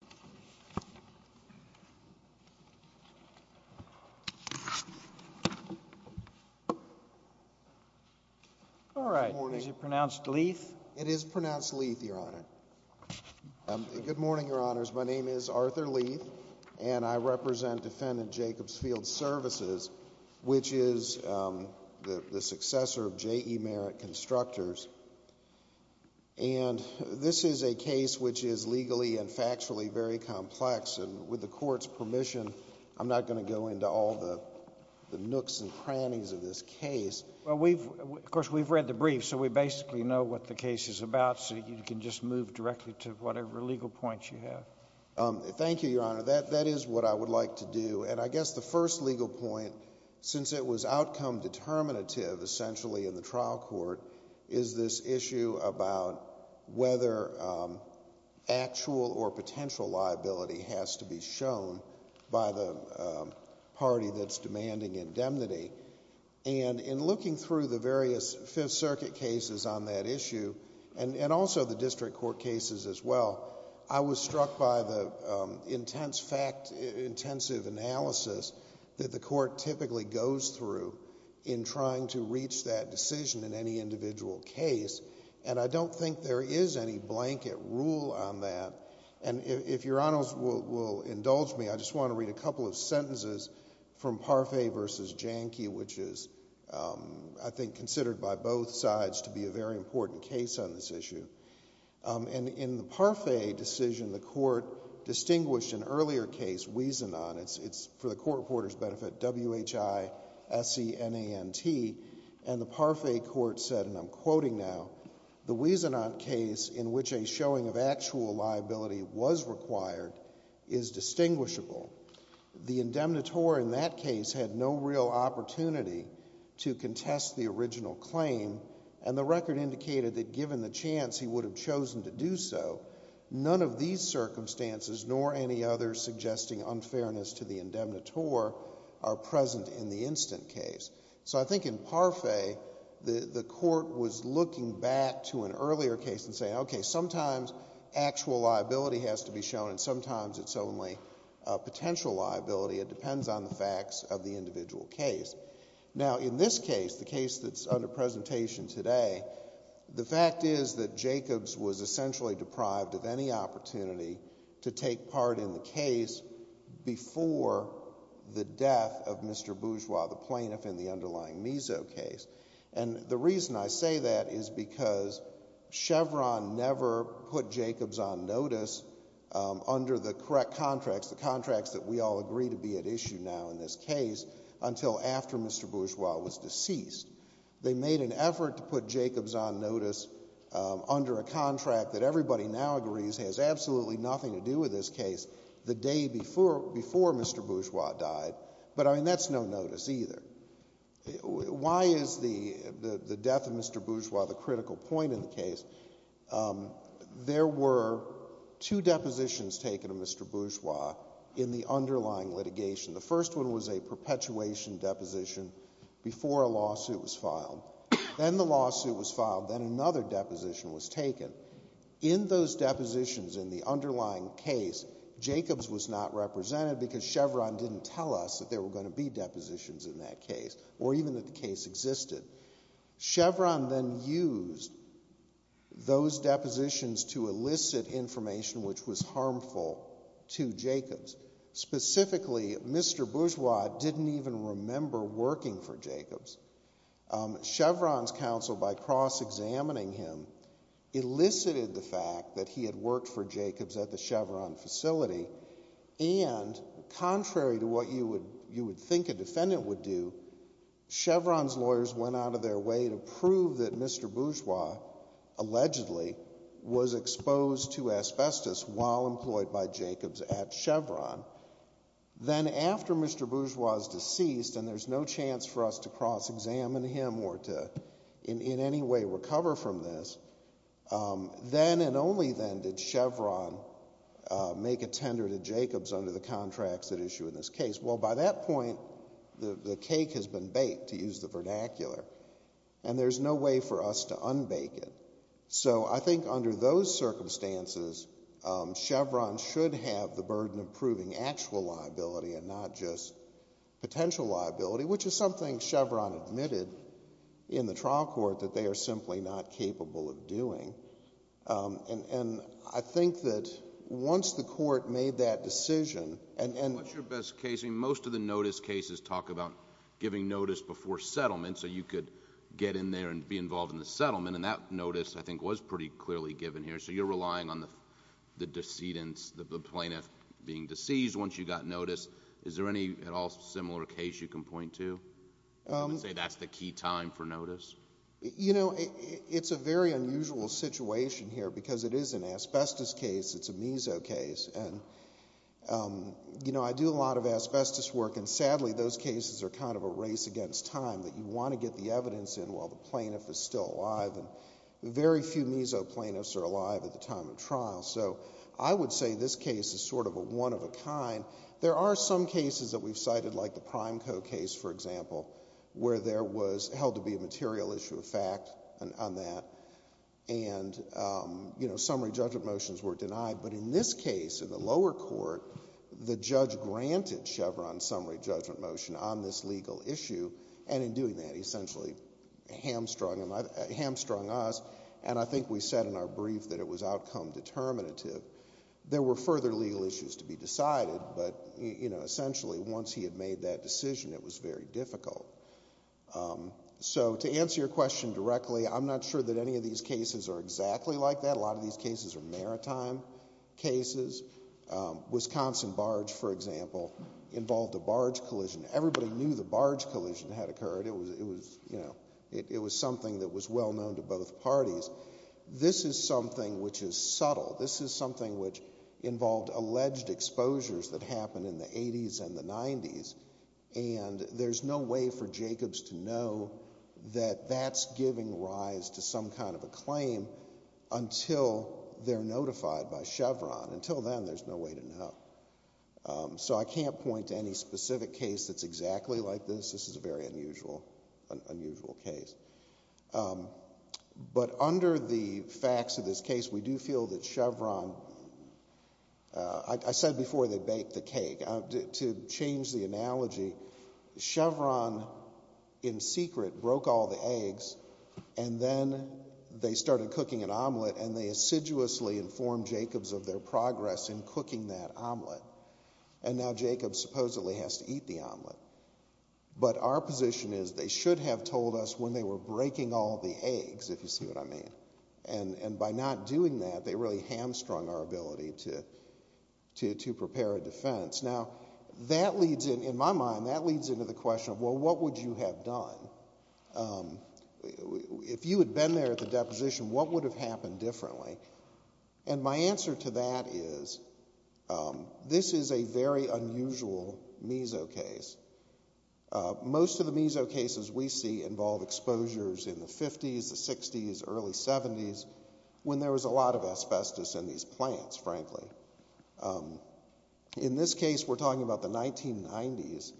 Arthur Leith, J.E. Merit Constructors, LLC My name is Arthur Leith, and I represent Defendant Jacobs Field Svcs, which is the successor of J.E. Merit Constructors. And this is a case which is legally and factually very complex, and with the Court's permission, I'm not going to go into all the nooks and crannies of this case. Well, we've, of course, we've read the brief, so we basically know what the case is about, so you can just move directly to whatever legal points you have. Thank you, Your Honor. That is what I would like to do. And I guess the first legal point, since it was outcome determinative, essentially, in the trial court, is this issue about whether actual or potential liability has to be shown by the party that's demanding indemnity. And in looking through the various Fifth Circuit cases on that issue, and also the district court cases as well, I was struck by the intense fact, intensive analysis that the Court typically goes through in trying to reach that decision in any individual case, and I don't think there is any blanket rule on that. And if Your Honors will indulge me, I just want to read a couple of sentences from Parfait v. Jahnke, which is, I think, considered by both sides to be a very important case on this issue. And in the Parfait decision, the Court distinguished an earlier case, Wiesenon, it's for the Court supporter's benefit, W-H-I-S-E-N-A-N-T, and the Parfait Court said, and I'm quoting now, the Wiesenon case, in which a showing of actual liability was required, is distinguishable. The indemnitore in that case had no real opportunity to contest the original claim, and the record indicated that given the chance he would have chosen to do so, none of these circumstances nor any other suggesting unfairness to the indemnitore are present in the instant case. So I think in Parfait, the Court was looking back to an earlier case and saying, okay, sometimes actual liability has to be shown and sometimes it's only potential liability. It depends on the facts of the individual case. Now in this case, the case that's under presentation today, the fact is that Jacobs was essentially deprived of any opportunity to take part in the case before the death of Mr. Bourgeois, the plaintiff in the underlying Miseau case, and the reason I say that is because Chevron never put Jacobs on notice under the correct contracts, the contracts that we all agree to be at issue now in this case, until after Mr. Bourgeois was deceased. They made an effort to put Jacobs on notice under a contract that everybody now agrees has absolutely nothing to do with this case the day before Mr. Bourgeois died, but I mean that's no notice either. Why is the death of Mr. Bourgeois the critical point in the case? There were two depositions taken of Mr. Bourgeois in the underlying litigation. The first one was a perpetuation deposition before a lawsuit was filed, then the lawsuit was filed, then another deposition was taken. In those depositions in the underlying case, Jacobs was not represented because Chevron didn't tell us that there were going to be depositions in that case or even that the case existed. Chevron then used those depositions to elicit information which was harmful to Jacobs, specifically Mr. Bourgeois didn't even remember working for Jacobs. Chevron's counsel, by cross-examining him, elicited the fact that he had worked for Jacobs at the Chevron facility, and contrary to what you would think a defendant would do, Chevron's lawyers went out of their way to prove that Mr. Bourgeois allegedly was exposed to asbestos while employed by Jacobs at Chevron. Then after Mr. Bourgeois is deceased and there's no chance for us to cross-examine him or to in any way recover from this, then and only then did Chevron make a tender to Jacobs under the contracts that issue in this case. Well by that point, the cake has been baked, to use the vernacular, and there's no way for us to unbake it. So I think under those circumstances, Chevron should have the burden of proving actual liability and not just potential liability, which is something Chevron admitted in the trial court that they are simply not capable of doing. And I think that once the court made that decision and... What's your best case? Most of the notice cases talk about giving notice before settlement so you could get in there and be involved in the settlement, and that notice, I think, was pretty clearly given here, so you're relying on the decedent, the plaintiff, being deceased once you got notice. Is there any at all similar case you can point to and say that's the key time for notice? You know, it's a very unusual situation here because it is an asbestos case, it's a meso case, and you know, I do a lot of asbestos work and sadly those cases are kind of a race against time that you want to get the evidence in while the plaintiff is still alive. Very few meso plaintiffs are alive at the time of trial, so I would say this case is sort of a one of a kind. There are some cases that we've cited like the Prime Co. case, for example, where there was held to be a material issue of fact on that and, you know, summary judgment motions were denied, but in this case, in the lower court, the judge granted Chevron summary judgment motion on this legal issue and in doing that, he essentially hamstrung us and I think we said in our brief that it was outcome determinative. There were further legal issues to be decided, but, you know, essentially once he had made that decision, it was very difficult. So to answer your question directly, I'm not sure that any of these cases are exactly like that. A lot of these cases are maritime cases. Wisconsin Barge, for example, involved a barge collision. Everybody knew the barge collision had occurred. It was something that was well known to both parties. This is something which is subtle. This is something which involved alleged exposures that happened in the 80s and the 90s and there's no way for Jacobs to know that that's giving rise to some kind of a claim until they're notified by Chevron. Until then, there's no way to know. So I can't point to any specific case that's exactly like this. This is a very unusual case. But under the facts of this case, we do feel that Chevron, I said before they baked the cake, to change the analogy, Chevron in secret broke all the eggs and then they started cooking an omelet and they assiduously informed Jacobs of their progress in cooking that omelet. And now Jacobs supposedly has to eat the omelet. But our position is they should have told us when they were breaking all the eggs, if you see what I mean. And by not doing that, they really hamstrung our ability to prepare a defense. Now that leads in, in my mind, that leads into the question of, well, what would you have done? If you had been there at the deposition, what would have happened differently? And my answer to that is, this is a very unusual meso case. Most of the meso cases we see involve exposures in the 50s, the 60s, early 70s, when there was a lot of asbestos in these plants, frankly. In this case, we're talking about the 1990s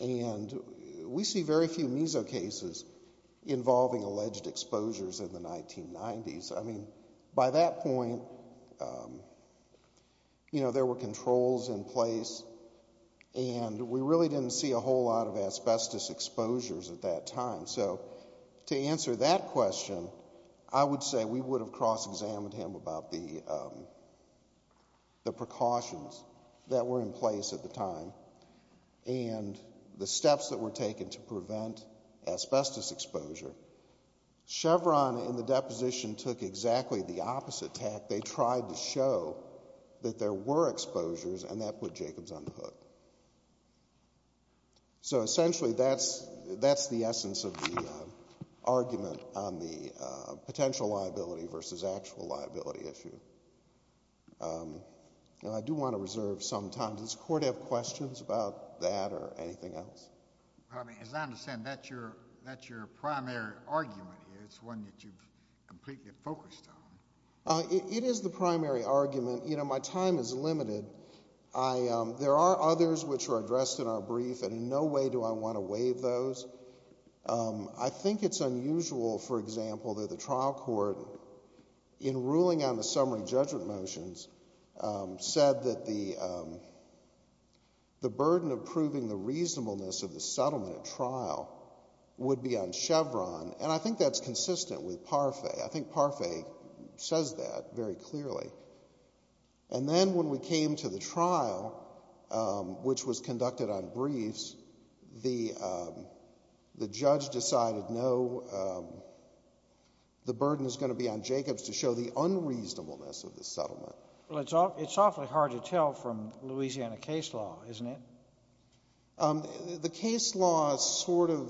and we see very few meso cases involving alleged exposures in the 1990s. I mean, by that point, you know, there were controls in place and we really didn't see a whole lot of asbestos exposures at that time. So to answer that question, I would say we would have cross-examined him about the precautions that were in place at the time and the steps that were taken to prevent asbestos exposure. Chevron in the deposition took exactly the opposite tack. They tried to show that there were exposures and that put Jacobs on the hook. So, essentially, that's the essence of the argument on the potential liability versus actual liability issue. Now, I do want to reserve some time. Does the Court have questions about that or anything else? As I understand, that's your primary argument here. It's one that you've completely focused on. You know, my time is limited. There are others which were addressed in our brief and in no way do I want to waive those. I think it's unusual, for example, that the trial court, in ruling on the summary judgment motions, said that the burden of proving the reasonableness of the settlement at trial would be on Chevron and I think that's consistent with Parfait. I think Parfait says that very clearly. And then when we came to the trial, which was conducted on briefs, the judge decided no, the burden is going to be on Jacobs to show the unreasonableness of the settlement. Well, it's awfully hard to tell from Louisiana case law, isn't it? The case law is sort of,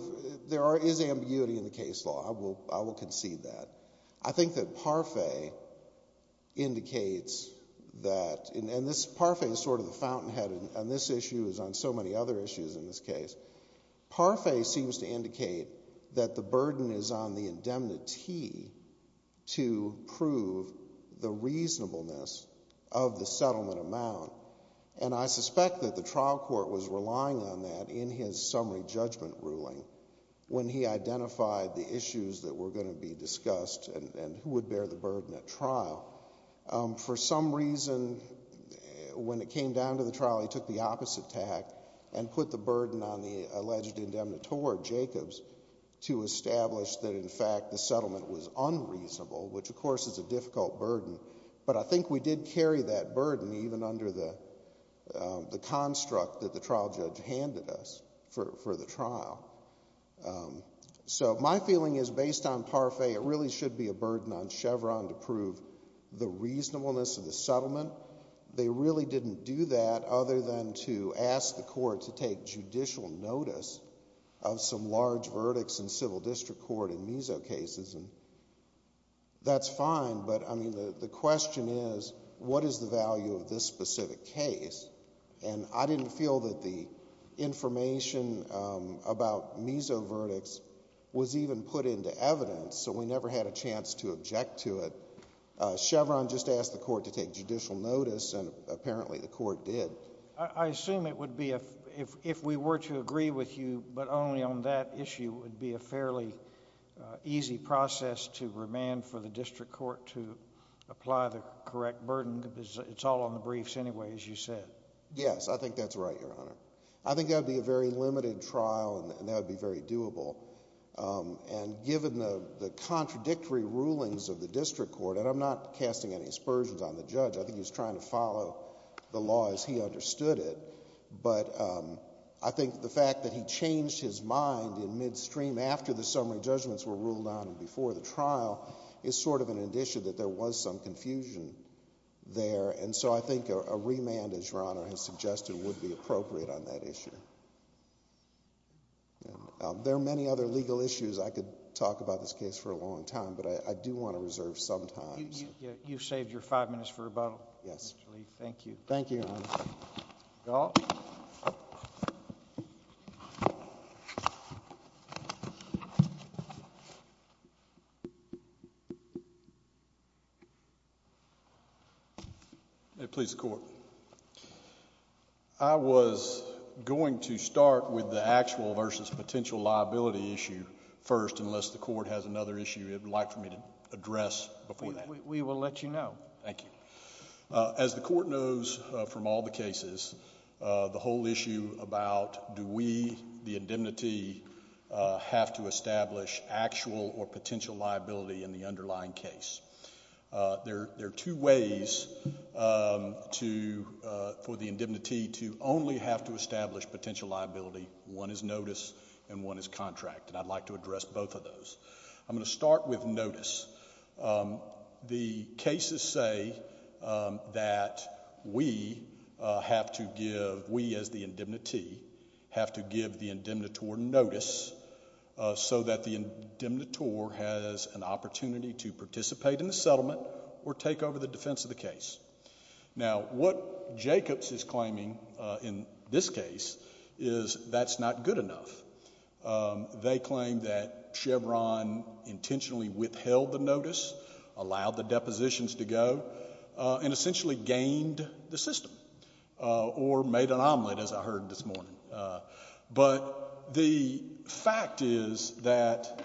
there is ambiguity in the case law, I will concede that. I think that Parfait indicates that, and this, Parfait is sort of the fountainhead on this issue as on so many other issues in this case, Parfait seems to indicate that the burden is on the indemnity to prove the reasonableness of the settlement amount. And I suspect that the trial court was relying on that in his summary judgment ruling when he identified the issues that were going to be discussed and who would bear the burden at trial. For some reason, when it came down to the trial, he took the opposite tack and put the burden on the alleged indemnitore, Jacobs, to establish that in fact the settlement was unreasonable, which of course is a difficult burden. But I think we did carry that burden even under the construct that the trial judge handed us for the trial. So my feeling is based on Parfait, it really should be a burden on Chevron to prove the reasonableness of the settlement. They really didn't do that other than to ask the court to take judicial notice of some large verdicts in civil district court in MISO cases and that's fine, but I mean the question is, what is the value of this specific case? And I didn't feel that the information about MISO verdicts was even put into evidence, so we never had a chance to object to it. Chevron just asked the court to take judicial notice and apparently the court did. I assume it would be, if we were to agree with you but only on that issue, it would be a fairly easy process to remand for the district court to apply the correct burden. It's all on the briefs anyway, as you said. Yes, I think that's right, Your Honor. I think that would be a very limited trial and that would be very doable. And given the contradictory rulings of the district court, and I'm not casting any aspersions on the judge, I think he was trying to follow the law as he understood it, but I think the fact that he changed his mind in midstream after the summary judgments were there, and so I think a remand, as Your Honor has suggested, would be appropriate on that issue. There are many other legal issues I could talk about this case for a long time, but I do want to reserve some time. You've saved your five minutes for rebuttal, Mr. Lee. Thank you. Thank you, Your Honor. Gallup. May it please the Court. I was going to start with the actual versus potential liability issue first, unless the Court has another issue it would like for me to address before that. We will let you know. Thank you. As the Court knows from all the cases, the whole issue about do we, the indemnity, have to establish actual or potential liability in the underlying case. There are two ways for the indemnity to only have to establish potential liability. One is notice and one is contract, and I'd like to address both of those. I'm going to start with notice. The cases say that we have to give, we as the indemnity, have to give the indemnitor notice so that the indemnitor has an opportunity to participate in the settlement or take over the defense of the case. Now what Jacobs is claiming in this case is that's not good enough. They claim that Chevron intentionally withheld the notice, allowed the depositions to go, and essentially gained the system or made an omelet as I heard this morning. But the fact is that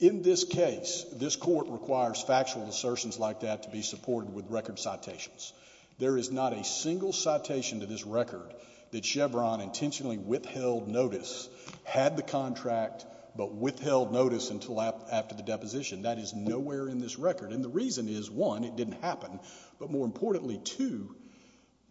in this case, this Court requires factual assertions like that to be supported with record citations. There is not a single citation to this record that Chevron intentionally withheld notice, had the contract, but withheld notice until after the deposition. That is nowhere in this record. And the reason is, one, it didn't happen, but more importantly, two,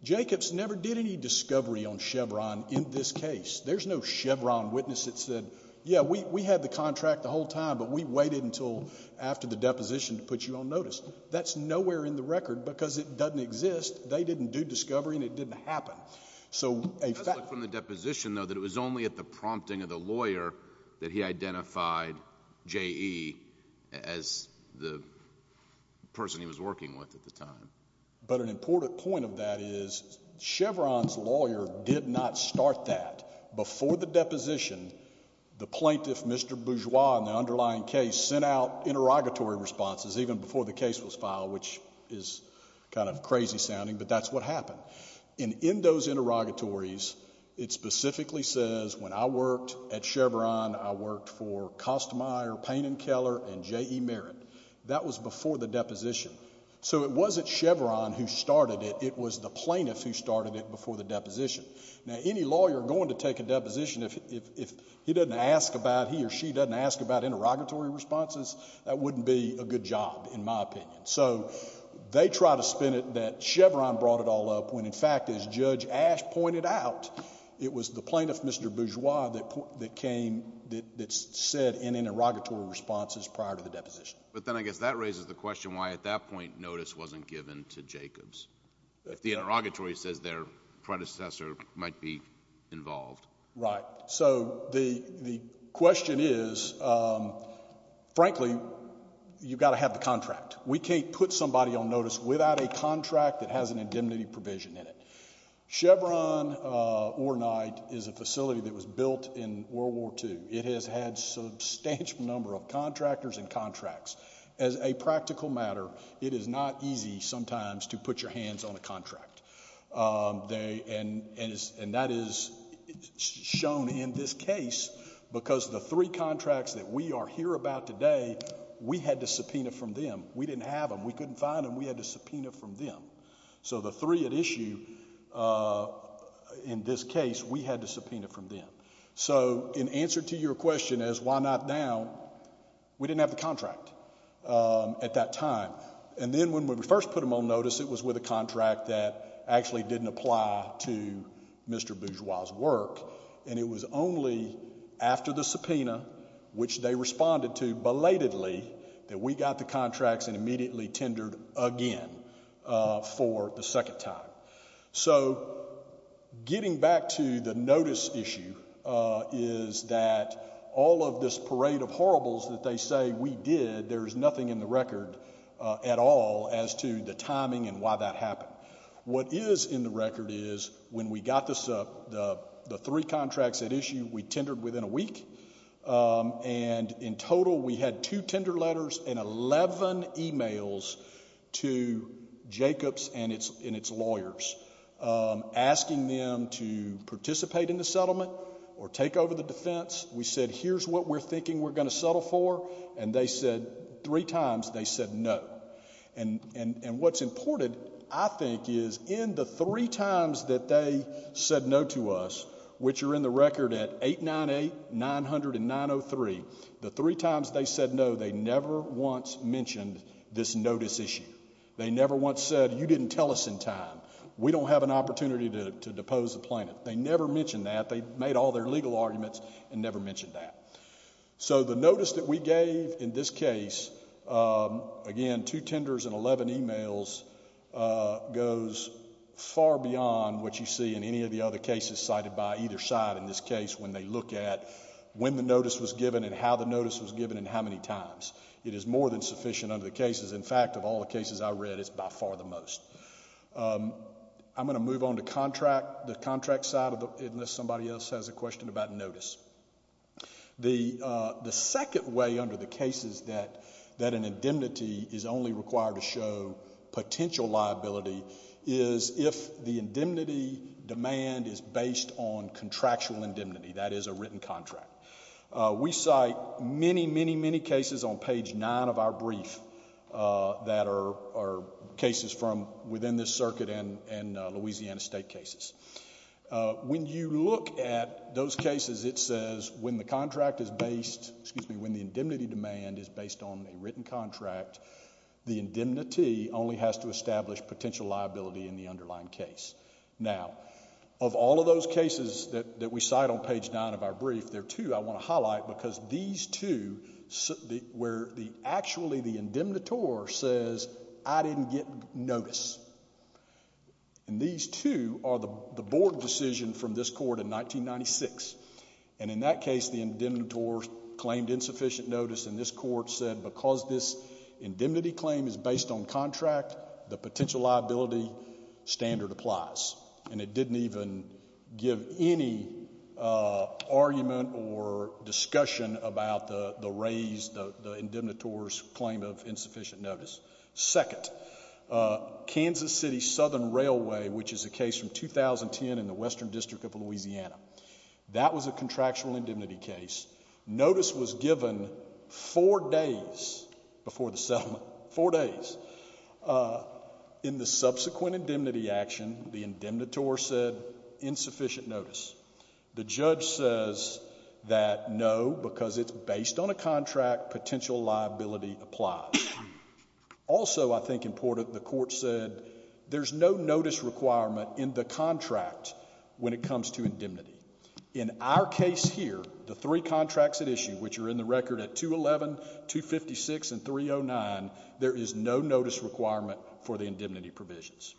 Jacobs never did any discovery on Chevron in this case. There's no Chevron witness that said, yeah, we had the contract the whole time, but we waited until after the deposition to put you on notice. That's nowhere in the record because it doesn't exist. They didn't do discovery and it didn't happen. So a fact— Let's look from the deposition, though, that it was only at the prompting of the lawyer that he identified J.E. as the person he was working with at the time. But an important point of that is Chevron's lawyer did not start that. Before the deposition, the plaintiff, Mr. Bourgeois, in the underlying case, sent out the case was filed, which is kind of crazy-sounding, but that's what happened. And in those interrogatories, it specifically says, when I worked at Chevron, I worked for Kostmeyer, Payne & Keller, and J.E. Merritt. That was before the deposition. So it wasn't Chevron who started it. It was the plaintiff who started it before the deposition. Now, any lawyer going to take a deposition, if he doesn't ask about—he or she doesn't ask about interrogatory responses, that wouldn't be a good job, in my opinion. So they try to spin it that Chevron brought it all up when, in fact, as Judge Ashe pointed out, it was the plaintiff, Mr. Bourgeois, that came—that said in interrogatory responses prior to the deposition. But then I guess that raises the question why, at that point, notice wasn't given to Jacobs. If the interrogatory says their predecessor might be involved. Right. So the question is, frankly, you've got to have the contract. We can't put somebody on notice without a contract that has an indemnity provision in it. Chevron, Orenight, is a facility that was built in World War II. It has had a substantial number of contractors and contracts. As a practical matter, it is not easy sometimes to put your hands on a contract. And that is shown in this case because the three contracts that we are here about today, we had to subpoena from them. We didn't have them. We couldn't find them. We had to subpoena from them. So the three at issue in this case, we had to subpoena from them. So in answer to your question as why not now, we didn't have the contract at that time. And then when we first put them on notice, it was with a contract that actually didn't apply to Mr. Bourgeois' work. And it was only after the subpoena, which they responded to belatedly, that we got the contracts and immediately tendered again for the second time. So getting back to the notice issue is that all of this parade of horribles that they say we did, there is nothing in the record at all as to the timing and why that happened. What is in the record is when we got the three contracts at issue, we tendered within a week. And in total, we had two tender letters and 11 emails to Jacobs and its lawyers asking them to participate in the settlement or take over the defense. We said, here's what we're thinking we're going to settle for. And they said, three times, they said no. And what's important, I think, is in the three times that they said no to us, which are in the record at 898, 900, and 903, the three times they said no, they never once mentioned this notice issue. They never once said, you didn't tell us in time. We don't have an opportunity to depose the plaintiff. They never mentioned that. They made all their legal arguments and never mentioned that. So the notice that we gave in this case, again, two tenders and 11 emails, goes far beyond what you see in any of the other cases cited by either side in this case when they look at when the notice was given and how the notice was given and how many times. It is more than sufficient under the cases. In fact, of all the cases I read, it's by far the most. I'm going to move on to contract, the contract side, unless somebody else has a question about notice. The second way under the cases that an indemnity is only required to show potential liability is if the indemnity demand is based on contractual indemnity, that is, a written contract. We cite many, many, many cases on page nine of our brief that are cases from within this circuit and Louisiana state cases. When you look at those cases, it says when the contract is based, excuse me, when the indemnity demand is based on a written contract, the indemnity only has to establish potential liability in the underlying case. Now, of all of those cases that we cite on page nine of our brief, there are two I want to highlight because these two where actually the indemnitor says, I didn't get notice. These two are the board decision from this court in 1996. In that case, the indemnitor claimed insufficient notice and this court said because this indemnity claim is based on contract, the potential liability standard applies and it didn't even give any argument or discussion about the raise, the indemnitor's claim of insufficient notice. Second, Kansas City Southern Railway, which is a case from 2010 in the Western District of Louisiana, that was a contractual indemnity case. Notice was given four days before the settlement, four days. In the subsequent indemnity action, the indemnitor said insufficient notice. The judge says that no, because it's based on a contract, potential liability applies. Also, I think important, the court said there's no notice requirement in the contract when it comes to indemnity. In our case here, the three contracts at issue, which are in the record at 211, 256, and 309, there is no notice requirement for the indemnity provisions.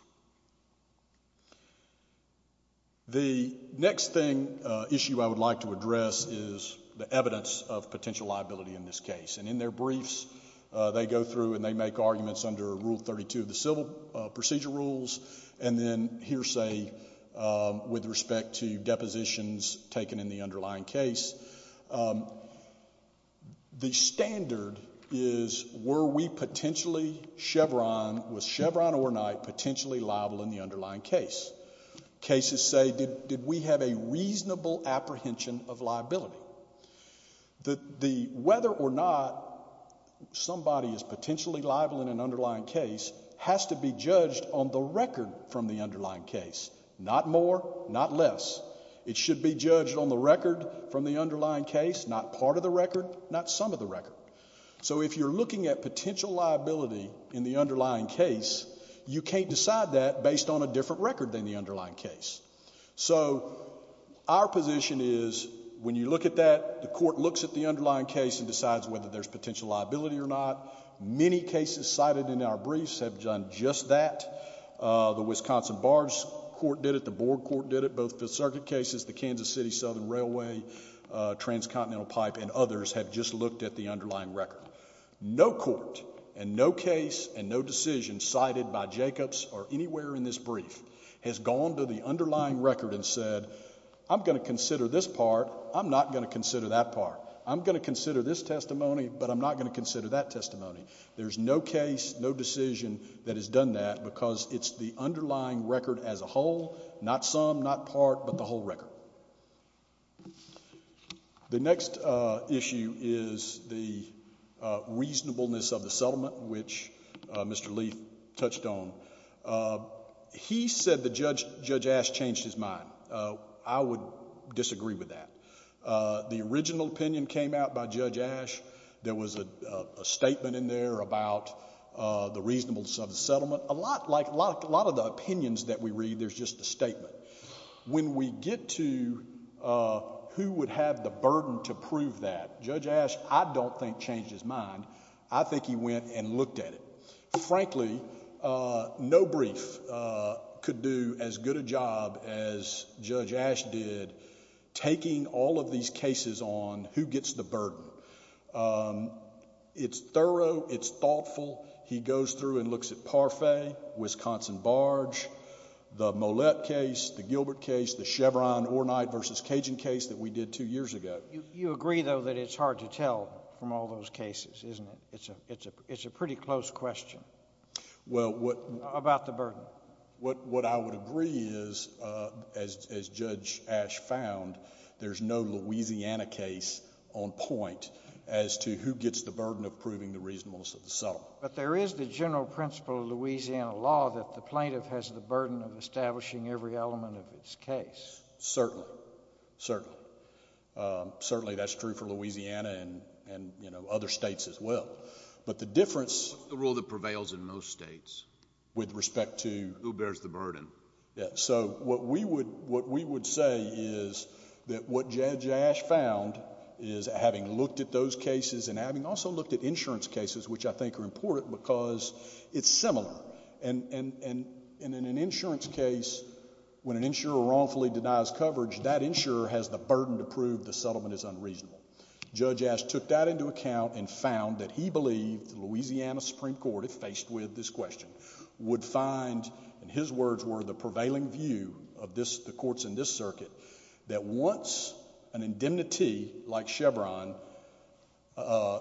The next thing, issue I would like to address is the evidence of potential liability in this case. In their briefs, they go through and they make arguments under Rule 32 of the Civil Procedure Rules, and then hearsay with respect to depositions taken in the underlying case. The standard is, were we potentially Chevron, was Chevron or not potentially liable in the underlying case? Cases say, did we have a reasonable apprehension of liability? Whether or not somebody is potentially liable in an underlying case has to be judged on the record from the underlying case, not more, not less. It should be judged on the record from the underlying case, not part of the record, not some of the record. So if you're looking at potential liability in the underlying case, you can't decide that based on a different record than the underlying case. So our position is, when you look at that, the court looks at the underlying case and decides whether there's potential liability or not. Many cases cited in our briefs have done just that. The Wisconsin Bar Court did it, the Board Court did it, both Fifth Circuit cases, the Kansas City Southern Railway, Transcontinental Pipe, and others have just looked at the underlying record. No court, and no case, and no decision cited by Jacobs or anywhere in this brief has gone to the underlying record and said, I'm going to consider this part, I'm not going to consider that part. I'm going to consider this testimony, but I'm not going to consider that testimony. There's no case, no decision that has done that because it's the underlying record as a whole, not some, not part, but the whole record. The next issue is the reasonableness of the settlement, which Mr. Leath touched on. He said that Judge Ash changed his mind. I would disagree with that. The original opinion came out by Judge Ash. There was a statement in there about the reasonableness of the settlement. A lot, like a lot of the opinions that we read, there's just a statement. When we get to who would have the burden to prove that, Judge Ash, I don't think changed his mind. I think he went and looked at it. Frankly, no brief could do as good a job as Judge Ash did taking all of these cases on who gets the burden. It's thorough. It's thoughtful. He goes through and looks at Parfait, Wisconsin Barge, the Mollett case, the Gilbert case, the Chevron-Ornyte versus Cajun case that we did two years ago. You agree, though, that it's hard to tell from all those cases, isn't it? It's a pretty close question about the burden. What I would agree is, as Judge Ash found, there's no Louisiana case on point as to who gets the burden of proving the reasonableness of the settlement. But there is the general principle of Louisiana law that the plaintiff has the burden of establishing every element of its case. Certainly. Certainly. Certainly, that's true for Louisiana and other states as well. But the difference... What's the rule that prevails in most states? With respect to... Who bears the burden? Yeah. So, what we would say is that what Judge Ash found is, having looked at those cases and having also looked at insurance cases, which I think are important because it's similar. And in an insurance case, when an insurer wrongfully denies coverage, that insurer has the burden to prove the settlement is unreasonable. Judge Ash took that into account and found that he believed the Louisiana Supreme Court, if faced with this question, would find, in his words, were the prevailing view of the courts in this circuit, that once an indemnity, like Chevron,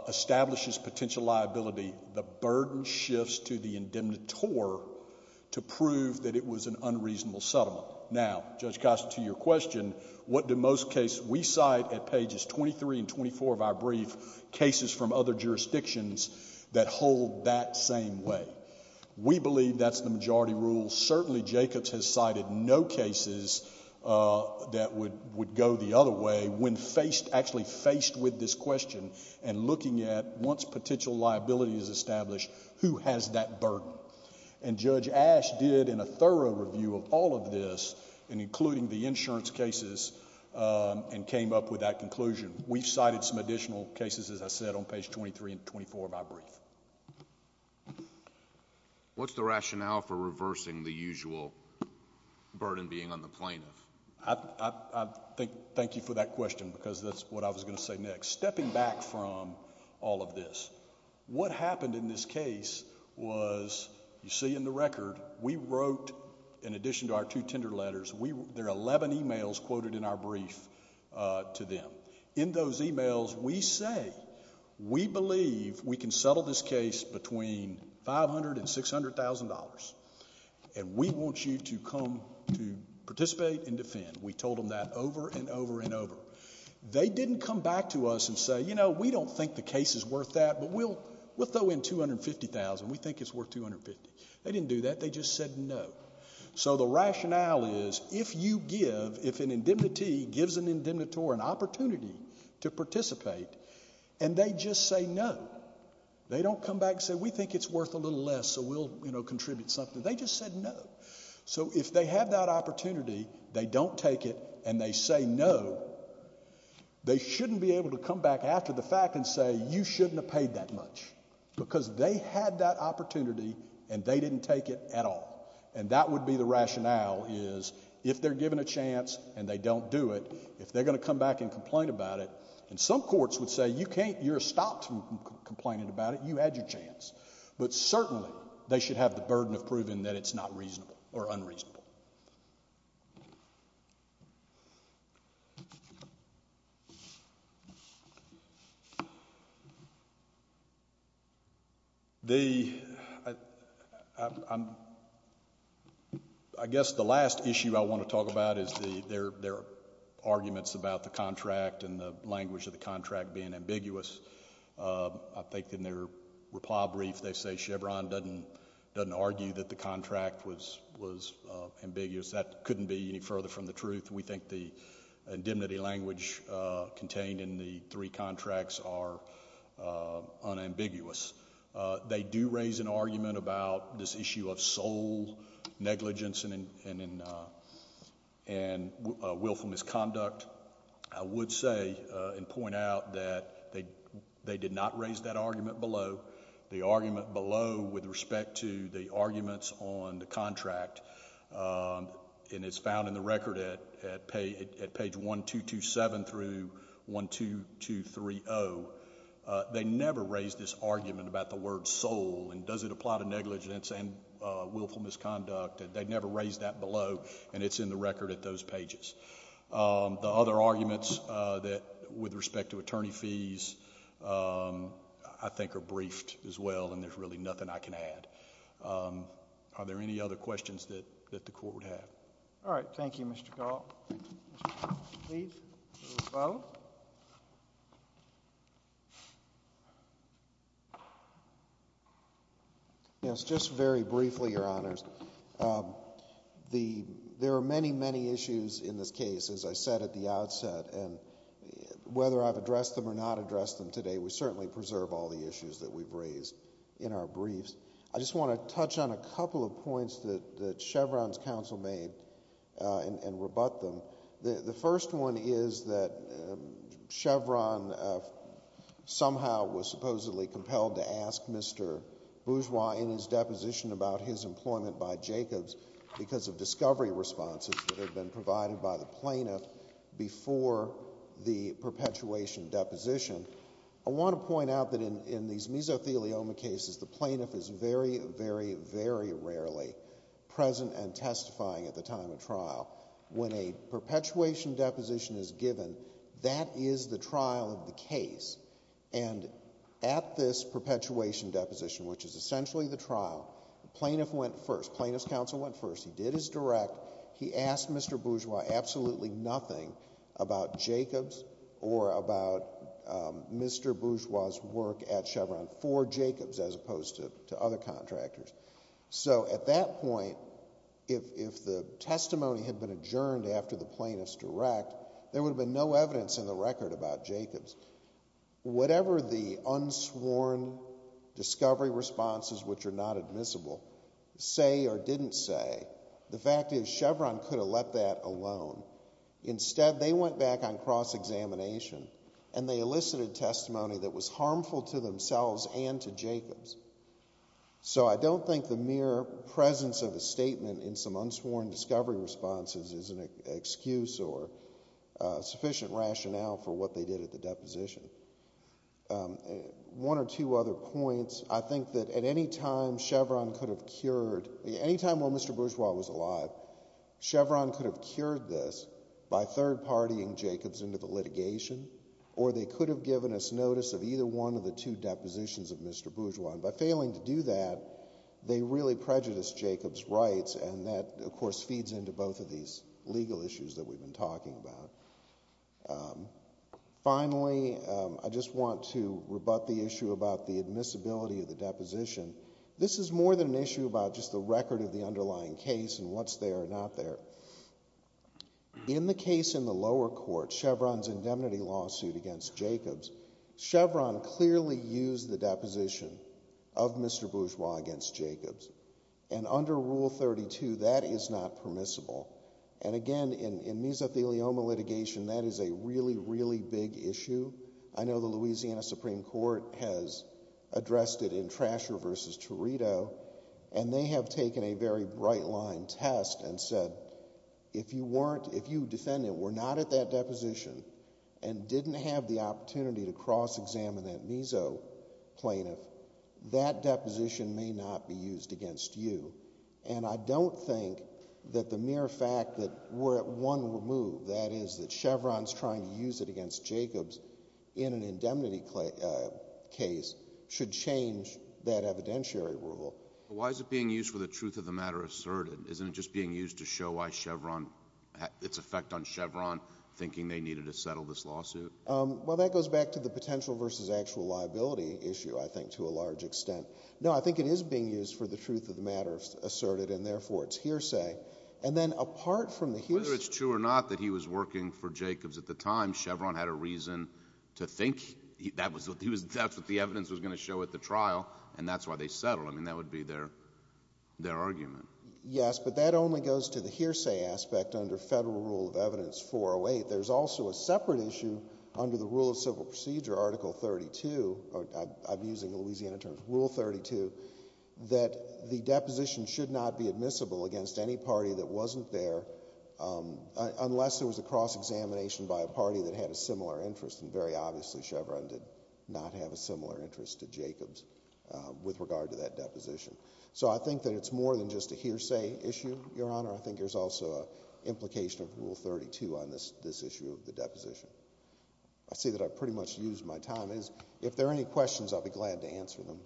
establishes potential liability, the burden shifts to the indemnitor to prove that it was an unreasonable settlement. Now, Judge Costa, to your question, what do most cases... We cite at pages 23 and 24 of our brief cases from other jurisdictions that hold that same way. We believe that's the majority rule. Certainly, Jacobs has cited no cases that would go the other way when faced... actually establish who has that burden. And Judge Ash did, in a thorough review of all of this, including the insurance cases, and came up with that conclusion. We've cited some additional cases, as I said, on page 23 and 24 of our brief. What's the rationale for reversing the usual burden being on the plaintiff? Thank you for that question because that's what I was going to say next. Stepping back from all of this, what happened in this case was, you see in the record, we wrote, in addition to our two tender letters, there are eleven emails quoted in our brief to them. In those emails, we say, we believe we can settle this case between $500,000 and $600,000 and we want you to come to participate and defend. We told them that over and over and over. They didn't come back to us and say, you know, we don't think the case is worth that, but we'll throw in $250,000. We think it's worth $250,000. They didn't do that. They just said no. So the rationale is, if you give... if an indemnity gives an indemnitor an opportunity to participate, and they just say no. They don't come back and say, we think it's worth a little less, so we'll contribute something. They just said no. So if they have that opportunity, they don't take it, and they say no, they shouldn't be able to come back after the fact and say, you shouldn't have paid that much. Because they had that opportunity, and they didn't take it at all. And that would be the rationale is, if they're given a chance, and they don't do it, if they're going to come back and complain about it, and some courts would say, you can't... you're stopped from complaining about it, you had your chance. But certainly, they should have the burden of proving that it's not reasonable, or unreasonable. The... I'm... I guess the last issue I want to talk about is the... there are arguments about the contract and the language of the contract being ambiguous. I think in their reply brief, they say Chevron doesn't argue that the contract was ambiguous. That couldn't be any further from the truth. We think the indemnity language contained in the three contracts are unambiguous. They do raise an argument about this issue of sole negligence and willful misconduct. I would say and point out that they did not raise that argument below. The argument below with respect to the arguments on the contract, and it's found in the record at page 1227 through 12230, they never raised this argument about the word sole, and does it apply to negligence and willful misconduct. They never raised that below, and it's in the record at those pages. The other arguments that, with respect to attorney fees, I think are briefed as well, and there's really nothing I can add. Are there any other questions that the Court would have? All right. Thank you, Mr. Gault. Mr. Gault, please, for the rebuttal. Yes, just very briefly, Your Honors. There are many, many issues in this case, as I said at the outset, and whether I've addressed them or not addressed them today, we certainly preserve all the issues that we've raised in our briefs. I just want to touch on a couple of points that Chevron's counsel made and rebut them. The first one is that Chevron somehow was supposedly compelled to ask Mr. Bourgeois in his deposition about his employment by Jacobs because of discovery responses that had been provided by the plaintiff before the perpetuation deposition. I want to point out that in these mesothelioma cases, the plaintiff is very, very, very rarely present and testifying at the time of trial. When a perpetuation deposition is given, that is the trial of the case, and at this point, it's simply the trial. The plaintiff went first. The plaintiff's counsel went first. He did his direct. He asked Mr. Bourgeois absolutely nothing about Jacobs or about Mr. Bourgeois' work at Chevron for Jacobs as opposed to other contractors. So at that point, if the testimony had been adjourned after the plaintiff's direct, there would have been no evidence in the record about Jacobs. Whatever the unsworn discovery responses, which are not admissible, say or didn't say, the fact is Chevron could have let that alone. Instead, they went back on cross-examination, and they elicited testimony that was harmful to themselves and to Jacobs. So I don't think the mere presence of a statement in some unsworn discovery responses is an excuse or sufficient rationale for what they did at the deposition. One or two other points. I think that at any time Chevron could have cured—any time when Mr. Bourgeois was alive, Chevron could have cured this by third-partying Jacobs into the litigation, or they could have given us notice of either one of the two depositions of Mr. Bourgeois. By failing to do that, they really prejudiced Jacobs' rights, and that, of course, feeds into both of these legal issues that we've been talking about. Finally, I just want to rebut the issue about the admissibility of the deposition. This is more than an issue about just the record of the underlying case and what's there or not there. In the case in the lower court, Chevron's indemnity lawsuit against Jacobs, Chevron clearly used the deposition of Mr. Bourgeois against Jacobs, and under Rule 32, that is not permissible. Again, in mesothelioma litigation, that is a really, really big issue. I know the Louisiana Supreme Court has addressed it in Trasher v. Torito, and they have taken a very bright-line test and said, if you defendant were not at that deposition and didn't have the opportunity to cross-examine that mesoplaintiff, that deposition may not be used against you. I don't think that the mere fact that we're at one move, that is that Chevron's trying to use it against Jacobs in an indemnity case, should change that evidentiary rule. Why is it being used for the truth of the matter asserted? Isn't it just being used to show its effect on Chevron, thinking they needed to settle this lawsuit? Well, that goes back to the potential versus actual liability issue, I think, to a large extent. No, I think it is being used for the truth of the matter asserted, and therefore, it's hearsay. And then, apart from the hearsay— Whether it's true or not that he was working for Jacobs at the time, Chevron had a reason to think that's what the evidence was going to show at the trial, and that's why they settled. I mean, that would be their argument. Yes, but that only goes to the hearsay aspect under Federal Rule of Evidence 408. There's also a separate issue under the Rule of Civil Procedure, Article 32—I'm using Louisiana terms—Rule 32, that the deposition should not be admissible against any party that wasn't there, unless there was a cross-examination by a party that had a similar interest, and very obviously, Chevron did not have a similar interest to Jacobs with regard to that deposition. So I think that it's more than just a hearsay issue, Your Honor. I think there's also an implication of Rule 32 on this issue of the deposition. I see that I've pretty much used my time. If there are any questions, I'll be glad to answer them.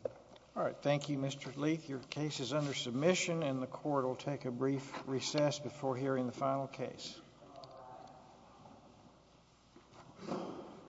All right. Thank you, Mr. Leath. Your case is under submission, and the Court will take a brief recess before hearing the final case.